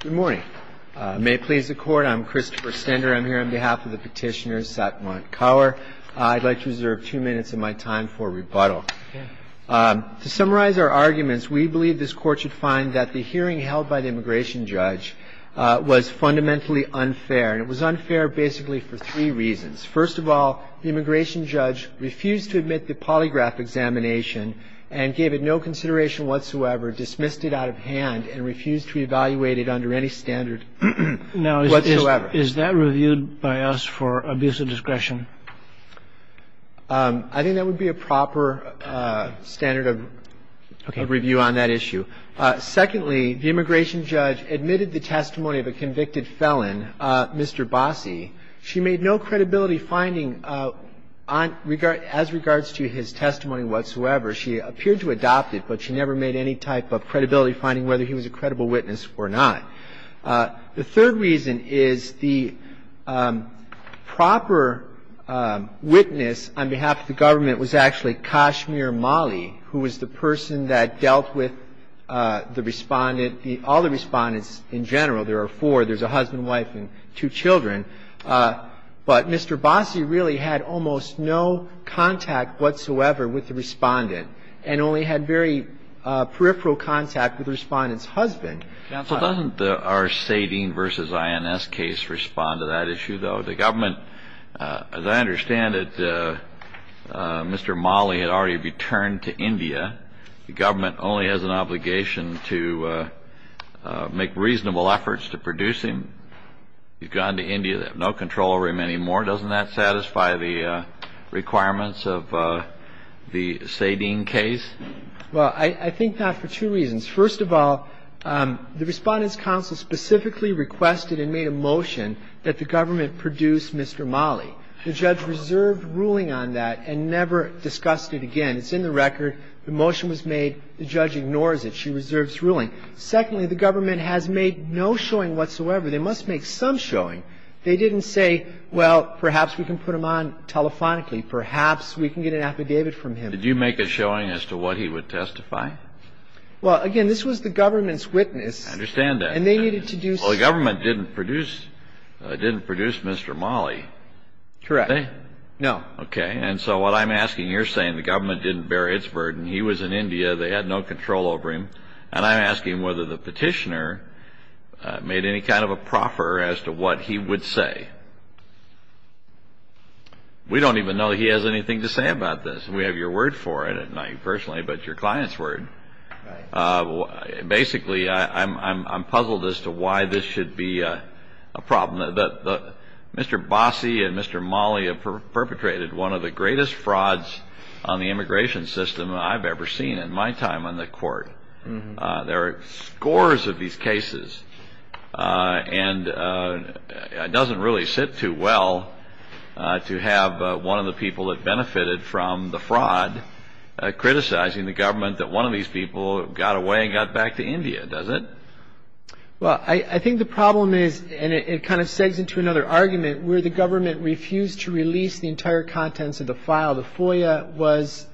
Good morning. May it please the Court, I'm Christopher Stender. I'm here on behalf of the petitioner, Satwant Kaur. I'd like to reserve two minutes of my time for rebuttal. To summarize our arguments, we believe this Court should find that the hearing held by the immigration judge was fundamentally unfair. And it was unfair basically for three reasons. First of all, the immigration judge refused to admit the polygraph examination and gave it no consideration whatsoever, dismissed it out of hand, and refused to evaluate it under any standard whatsoever. Now, is that reviewed by us for abuse of discretion? I think that would be a proper standard of review on that issue. Secondly, the immigration judge admitted the testimony of a convicted felon, Mr. Bossie. She made no credibility finding as regards to his testimony whatsoever. She appeared to adopt it, but she never made any type of credibility finding whether he was a credible witness or not. The third reason is the proper witness on behalf of the government was actually Kashmir Mali, who was the person that dealt with the Respondent, all the Respondents in general. There are four. There's a husband, wife, and two children. But Mr. Bossie really had almost no contact whatsoever with the Respondent and only had very peripheral contact with the Respondent's husband. Counsel, doesn't our SADEEN v. INS case respond to that issue, though? The government, as I understand it, Mr. Mali had already returned to India. The government only has an obligation to make reasonable efforts to produce him. You've gone to India. They have no control over him anymore. Doesn't that satisfy the requirements of the SADEEN case? Well, I think that for two reasons. First of all, the Respondent's counsel specifically requested and made a motion that the government produce Mr. Mali. The judge reserved ruling on that and never discussed it again. It's in the record. The motion was made. The judge ignores it. She reserves ruling. Secondly, the government has made no showing whatsoever. They must make some showing. They didn't say, well, perhaps we can put him on telephonically. Perhaps we can get an affidavit from him. Did you make a showing as to what he would testify? Well, again, this was the government's witness. I understand that. And they needed to do something. Well, the government didn't produce Mr. Mali. Correct. No. Okay. And so what I'm asking, you're saying the government didn't bear its burden. He was in India. They had no control over him. And I'm asking whether the petitioner made any kind of a proffer as to what he would say. We don't even know he has anything to say about this. We have your word for it. Not you personally, but your client's word. Basically, I'm puzzled as to why this should be a problem. Mr. Bossi and Mr. Mali have perpetrated one of the greatest frauds on the immigration system I've ever seen in my time on the court. There are scores of these cases. And it doesn't really sit too well to have one of the people that benefited from the fraud criticizing the government that one of these people got away and got back to India, does it? Well, I think the problem is, and it kind of segues into another argument, where the government refused to release the entire contents of the file. The FOIA was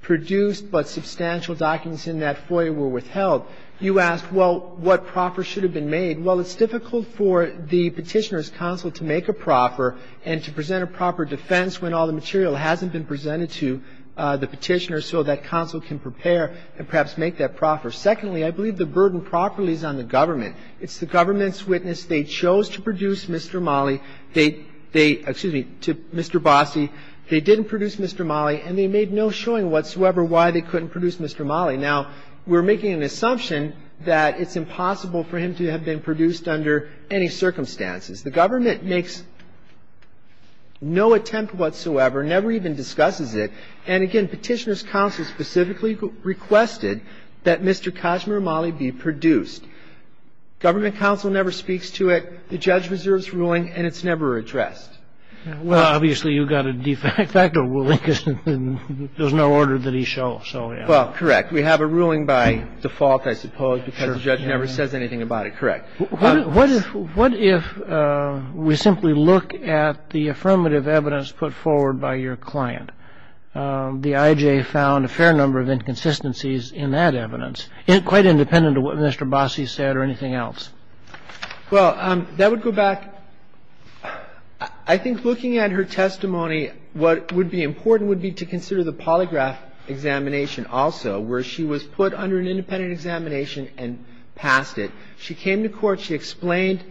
produced, but substantial documents in that FOIA were withheld. You asked, well, what proffer should have been made. Well, it's difficult for the petitioner's counsel to make a proffer and to present a proper defense when all the material hasn't been presented to the petitioner so that counsel can prepare and perhaps make that proffer. Secondly, I believe the burden properly is on the government. It's the government's witness. They chose to produce Mr. Mali. They, excuse me, to Mr. Bossi. They didn't produce Mr. Mali, and they made no showing whatsoever why they couldn't produce Mr. Mali. Now, we're making an assumption that it's impossible for him to have been produced under any circumstances. The government makes no attempt whatsoever, never even discusses it. And again, petitioner's counsel specifically requested that Mr. Kashmir Mali be produced. Government counsel never speaks to it. The judge reserves ruling, and it's never addressed. Well, obviously, you've got a de facto ruling, because there's no order that he shows. Well, correct. We have a ruling by default, I suppose, because the judge never says anything about it. Correct. What if we simply look at the affirmative evidence put forward by your client? The IJ found a fair number of inconsistencies in that evidence, quite independent of what Mr. Bossi said or anything else. Well, that would go back. I think looking at her testimony, what would be important would be to consider the polygraph examination also, where she was put under an independent examination and passed it. She came to court. She explained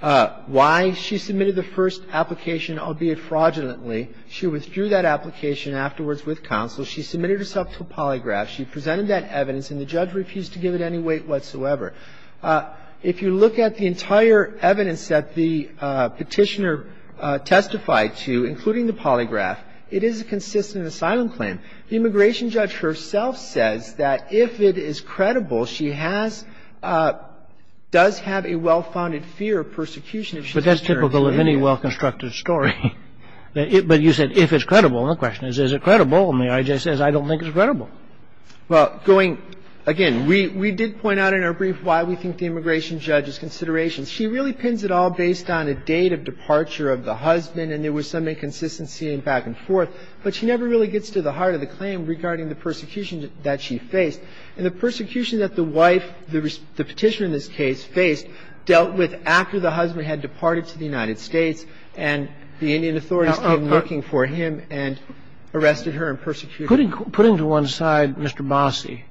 why she submitted the first application, albeit fraudulently. She withdrew that application afterwards with counsel. She submitted herself to a polygraph. She presented that evidence, and the judge refused to give it any weight whatsoever. If you look at the entire evidence that the petitioner testified to, including the polygraph, it is a consistent asylum claim. The immigration judge herself says that if it is credible, she has – does have a well-founded fear of persecution if she's returned to India. But that's typical of any well-constructed story. But you said if it's credible. My question is, is it credible? And the IJ says, I don't think it's credible. Well, going – again, we did point out in our brief why we think the immigration judge's considerations. She really pins it all based on a date of departure of the husband and there was some inconsistency and back and forth. But she never really gets to the heart of the claim regarding the persecution that she faced. And the persecution that the wife, the petitioner in this case, faced dealt with after the husband had departed to the United States and the Indian authorities came looking for him and arrested her and persecuted her. Putting to one side Mr. Bossie.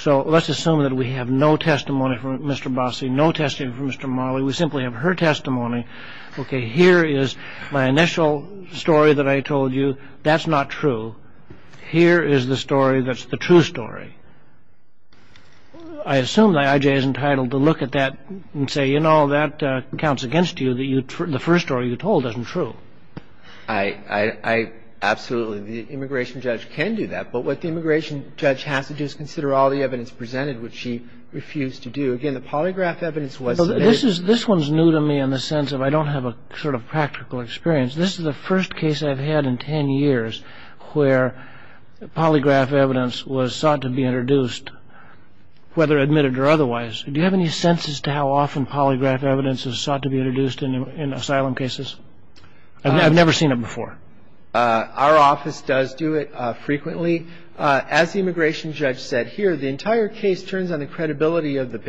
So let's assume that we have no testimony from Mr. Bossie, no testimony from Mr. Marley. We simply have her testimony. Okay, here is my initial story that I told you. That's not true. Here is the story that's the true story. I assume the IJ is entitled to look at that and say, you know, that counts against you, that the first story you told isn't true. I absolutely – the immigration judge can do that. But what the immigration judge has to do is consider all the evidence presented, which she refused to do. Again, the polygraph evidence was – This one is new to me in the sense of I don't have a sort of practical experience. This is the first case I've had in ten years where polygraph evidence was sought to be introduced, whether admitted or otherwise. Do you have any sense as to how often polygraph evidence is sought to be introduced in asylum cases? I've never seen it before. Our office does do it frequently. As the immigration judge said here, the entire case turns on the credibility of the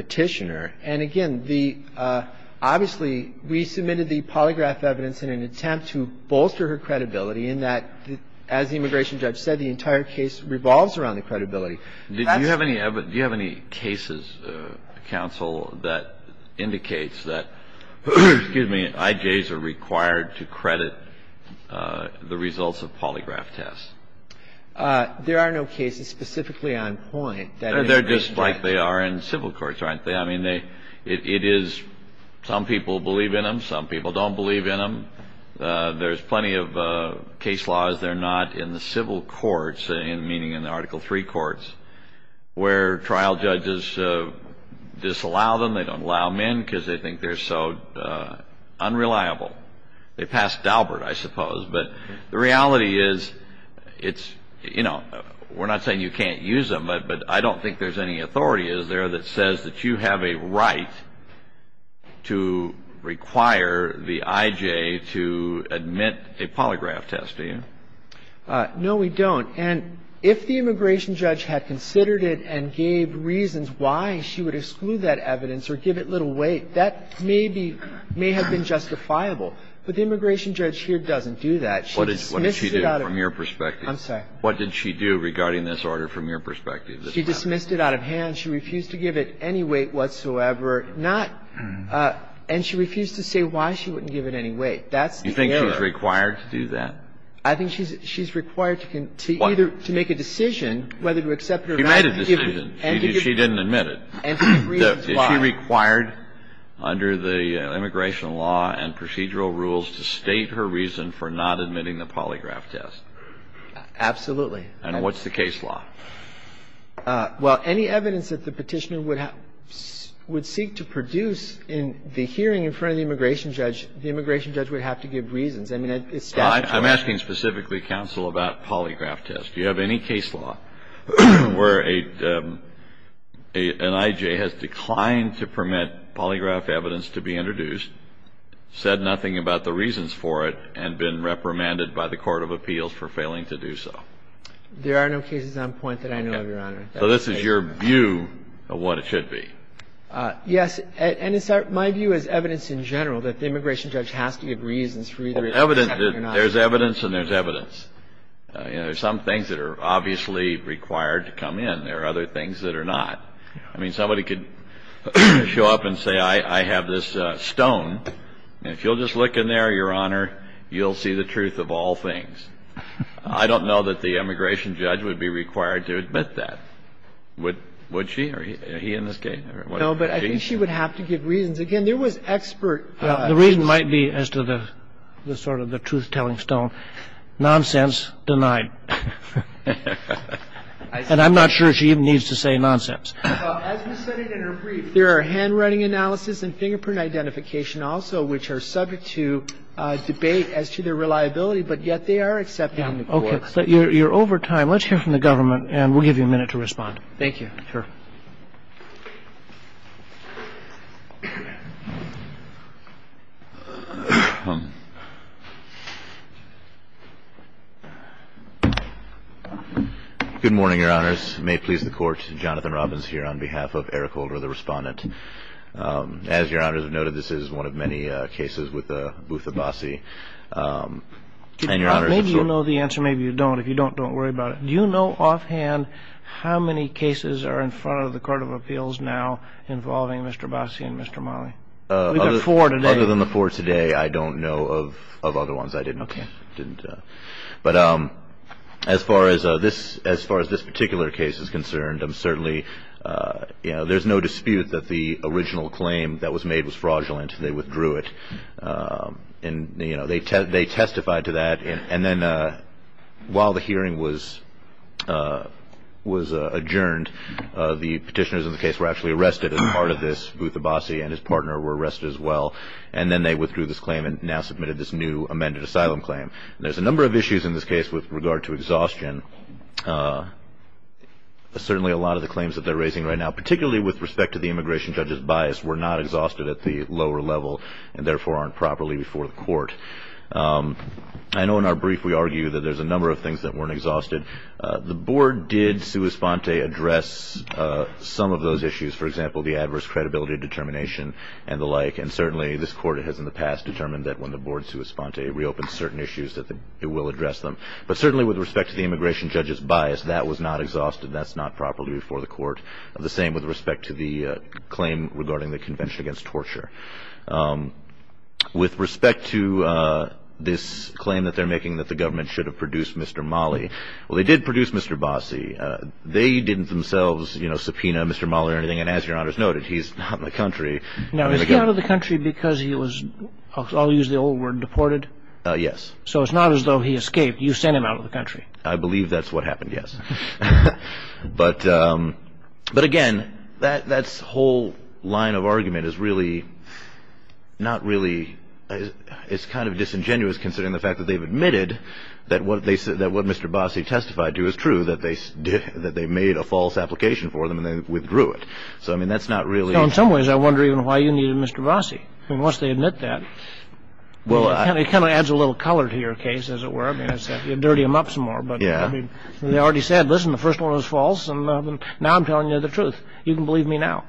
obviously we submitted the polygraph evidence in an attempt to bolster her credibility in that, as the immigration judge said, the entire case revolves around the credibility. Do you have any cases, counsel, that indicates that, excuse me, IJs are required to credit the results of polygraph tests? There are no cases specifically on point that an immigration judge – They're just like they are in civil courts, aren't they? I mean, it is – some people believe in them, some people don't believe in them. There's plenty of case laws. They're not in the civil courts, meaning in the Article III courts, where trial judges disallow them. They don't allow men because they think they're so unreliable. They pass Daubert, I suppose. But the reality is it's – you know, we're not saying you can't use them, but I don't think there's any authority, is there, that says that you have a right to require the IJ to admit a polygraph test, do you? No, we don't. And if the immigration judge had considered it and gave reasons why she would exclude that evidence or give it little weight, that may be – may have been justifiable. But the immigration judge here doesn't do that. She dismissed it out of – What did she do from your perspective? I'm sorry. What did she do regarding this order from your perspective? She dismissed it out of hand. She refused to give it any weight whatsoever, not – and she refused to say why she wouldn't give it any weight. That's the error. You think she's required to do that? I think she's required to either – to make a decision whether to accept it or not. She made a decision. She didn't admit it. And she reasons why. Is she required under the immigration law and procedural rules to state her reason for not admitting the polygraph test? Absolutely. And what's the case law? Well, any evidence that the Petitioner would have – would seek to produce in the hearing in front of the immigration judge, the immigration judge would have to give reasons. I mean, it's statutory. I'm asking specifically, counsel, about polygraph tests. Do you have any case law where an I.J. has declined to permit polygraph evidence to be introduced, said nothing about the reasons for it, and been reprimanded by the court of appeals for failing to do so? There are no cases on point that I know of, Your Honor. So this is your view of what it should be? Yes. And it's our – my view is evidence in general that the immigration judge has to give reasons for either accepting it or not. There's evidence and there's evidence. You know, there's some things that are obviously required to come in. There are other things that are not. I mean, somebody could show up and say, I have this stone, and if you'll just look in there, Your Honor, you'll see the truth of all things. I don't know that the immigration judge would be required to admit that. Would she? Are he in this case? No, but I think she would have to give reasons. Again, there was expert – The reason might be as to the sort of the truth-telling stone. Nonsense denied. And I'm not sure she even needs to say nonsense. As we said in her brief, there are handwriting analysis and fingerprint identification also which are subject to debate as to their reliability, but yet they are accepted in the courts. Okay. You're over time. Let's hear from the government, and we'll give you a minute to respond. Thank you. Sure. Good morning, Your Honors. May it please the Court. Jonathan Robbins here on behalf of Eric Holder, the Respondent. As Your Honors have noted, this is one of many cases with Booth Abbasi. And Your Honors – Maybe you know the answer. Maybe you don't. If you don't, don't worry about it. Do you know offhand how many cases are in front of the Court of Appeals now involving Mr. Abbasi and Mr. Malley? We've got four today. Other than the four today, I don't know of other ones. I didn't – Okay. But as far as this particular case is concerned, I'm certainly – there's no dispute that the original claim that was made was fraudulent. They withdrew it. And they testified to that. And then while the hearing was adjourned, the petitioners in the case were actually arrested as part of this. Booth Abbasi and his partner were arrested as well. And then they withdrew this claim and now submitted this new amended asylum claim. There's a number of issues in this case with regard to exhaustion. Certainly a lot of the claims that they're raising right now, particularly with respect to the immigration judge's bias, were not exhausted at the lower level and therefore aren't properly before the Court. I know in our brief we argue that there's a number of things that weren't exhausted. The Board did sua sponte address some of those issues, for example, the adverse credibility determination and the like. And certainly this Court has in the past determined that when the Board sua sponte, it reopens certain issues that it will address them. But certainly with respect to the immigration judge's bias, that was not exhausted. That's not properly before the Court. The same with respect to the claim regarding the Convention Against Torture. With respect to this claim that they're making that the government should have produced Mr. Mali, well, they did produce Mr. Abbasi. They didn't themselves subpoena Mr. Mali or anything. And as Your Honor has noted, he's not in the country. Now, is he out of the country because he was, I'll use the old word, deported? Yes. So it's not as though he escaped. You sent him out of the country. I believe that's what happened, yes. But, again, that whole line of argument is really not really – it's kind of disingenuous considering the fact that they've admitted that what Mr. Abbasi testified to is true, that they made a false application for him and they withdrew it. So, I mean, that's not really – So in some ways I wonder even why you needed Mr. Abbasi. I mean, once they admit that, it kind of adds a little color to your case, as it were. I mean, you dirty them up some more. But, I mean, they already said, listen, the first one was false, and now I'm telling you the truth. You can believe me now.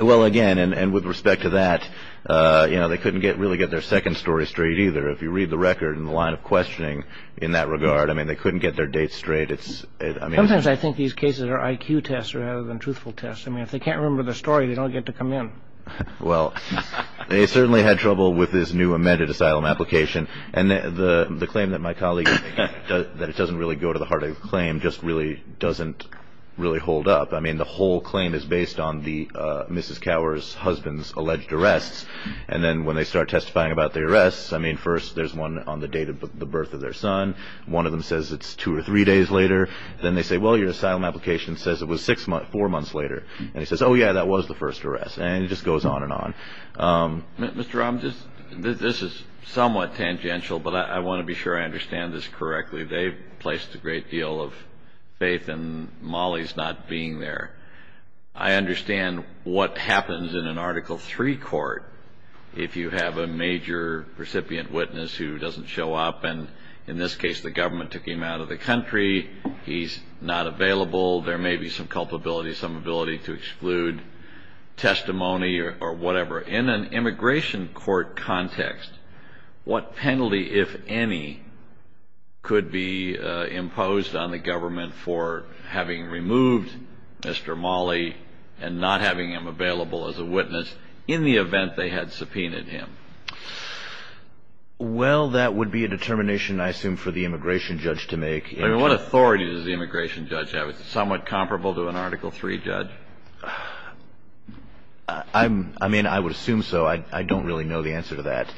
Well, again, and with respect to that, you know, they couldn't really get their second story straight either. If you read the record and the line of questioning in that regard, I mean, they couldn't get their dates straight. Sometimes I think these cases are IQ tests rather than truthful tests. I mean, if they can't remember the story, they don't get to come in. Well, they certainly had trouble with his new amended asylum application. And the claim that my colleague – that it doesn't really go to the heart of the claim just really doesn't really hold up. I mean, the whole claim is based on Mrs. Cower's husband's alleged arrests. And then when they start testifying about the arrests, I mean, first there's one on the date of the birth of their son. One of them says it's two or three days later. Then they say, well, your asylum application says it was four months later. And he says, oh, yeah, that was the first arrest. And it just goes on and on. Mr. Rahm, this is somewhat tangential, but I want to be sure I understand this correctly. They've placed a great deal of faith in Molly's not being there. I understand what happens in an Article III court if you have a major recipient witness who doesn't show up. And in this case, the government took him out of the country. He's not available. There may be some culpability, some ability to exclude testimony or whatever. In an immigration court context, what penalty, if any, could be imposed on the government for having removed Mr. Molly and not having him available as a witness in the event they had subpoenaed him? Well, that would be a determination, I assume, for the immigration judge to make. I mean, what authority does the immigration judge have? Is it somewhat comparable to an Article III judge? I mean, I would assume so. I don't really know the answer to that.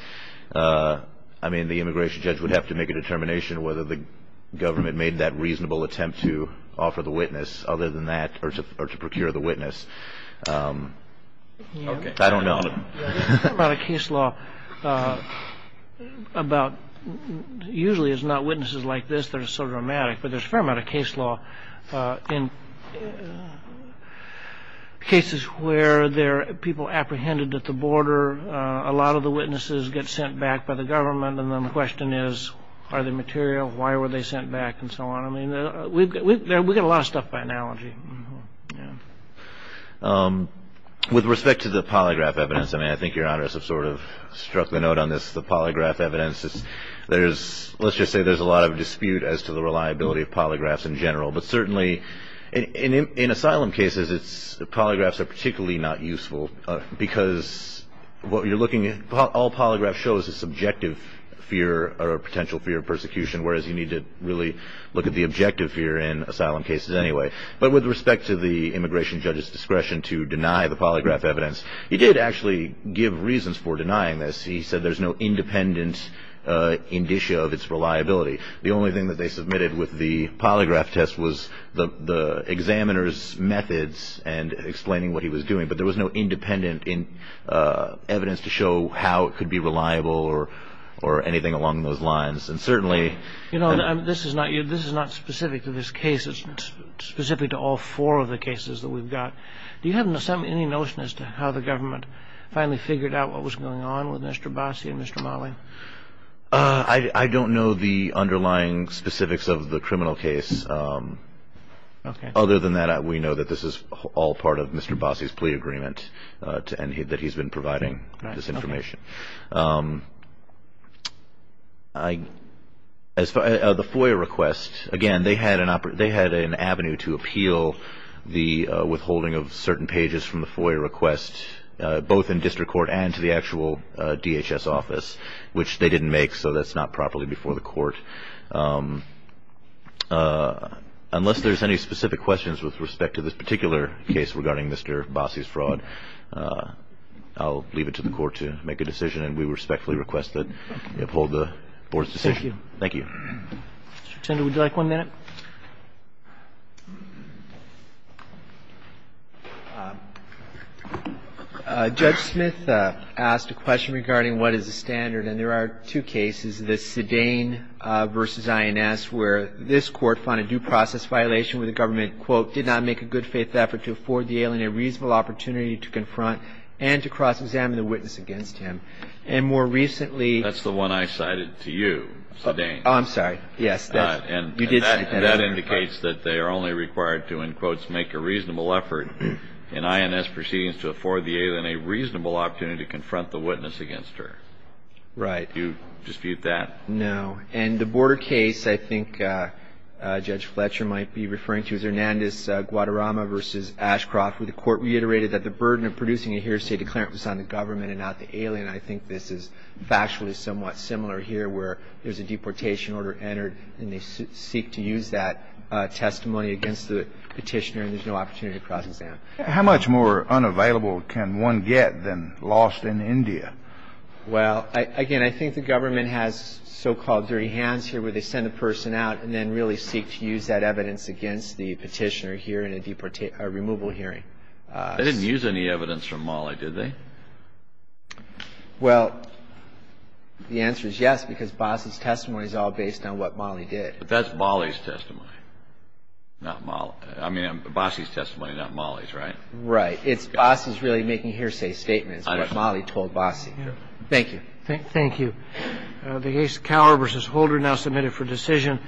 I mean, the immigration judge would have to make a determination whether the government made that reasonable attempt to offer the witness other than that or to procure the witness. I don't know. There's a fair amount of case law about, usually it's not witnesses like this that are so dramatic, but there's a fair amount of case law in cases where there are people apprehended at the border. A lot of the witnesses get sent back by the government, and then the question is, are they material? Why were they sent back? And so on. I mean, we've got a lot of stuff by analogy. With respect to the polygraph evidence, I mean, I think Your Honors have sort of struck the note on this, the polygraph evidence. Let's just say there's a lot of dispute as to the reliability of polygraphs in general, but certainly in asylum cases, polygraphs are particularly not useful because what you're looking at, all polygraph shows is subjective fear or potential fear of persecution, whereas you need to really look at the objective fear in asylum cases anyway. But with respect to the immigration judge's discretion to deny the polygraph evidence, he did actually give reasons for denying this. He said there's no independent indicia of its reliability. The only thing that they submitted with the polygraph test was the examiner's methods and explaining what he was doing, but there was no independent evidence to show how it could be reliable or anything along those lines. You know, this is not specific to this case. It's specific to all four of the cases that we've got. Do you have any notion as to how the government finally figured out what was going on with Mr. Bossi and Mr. Malley? I don't know the underlying specifics of the criminal case. Other than that, we know that this is all part of Mr. Bossi's plea agreement and that he's been providing this information. The FOIA request, again, they had an avenue to appeal the withholding of certain pages from the FOIA request, both in district court and to the actual DHS office, which they didn't make, so that's not properly before the court. Unless there's any specific questions with respect to this particular case regarding Mr. Bossi's fraud, I'll leave it to the court to make a decision, and we respectfully request that you uphold the board's decision. Thank you. Thank you. Mr. Tender, would you like one minute? Judge Smith asked a question regarding what is the standard, and there are two cases, the Sedain v. INS, where this court found a due process violation where the government, quote, did not make a good-faith effort to afford the alien a reasonable opportunity to confront and to cross-examine the witness against him. And more recently – That's the one I cited to you, Sedain. I'm sorry, yes. And that indicates that they are only required to, in quotes, make a reasonable effort in INS proceedings to afford the alien a reasonable opportunity to confront the witness against her. Right. Do you dispute that? No. And the border case I think Judge Fletcher might be referring to is Hernandez-Guadarrama v. Ashcroft, where the court reiterated that the burden of producing a hearsay declarant was on the government and not the alien. I think this is factually somewhat similar here, where there's a deportation order entered, and they seek to use that testimony against the petitioner, and there's no opportunity to cross-examine. How much more unavailable can one get than lost in India? Well, again, I think the government has so-called dirty hands here, where they send a person out and then really seek to use that evidence against the petitioner here in a removal hearing. They didn't use any evidence from Mollie, did they? Well, the answer is yes, because Basi's testimony is all based on what Mollie did. But that's Mollie's testimony, not Mollie's. I mean, Basi's testimony, not Mollie's, right? Right. Basi's really making hearsay statements, what Mollie told Basi. Thank you. Thank you. The case, Cowher v. Holder, now submitted for decision.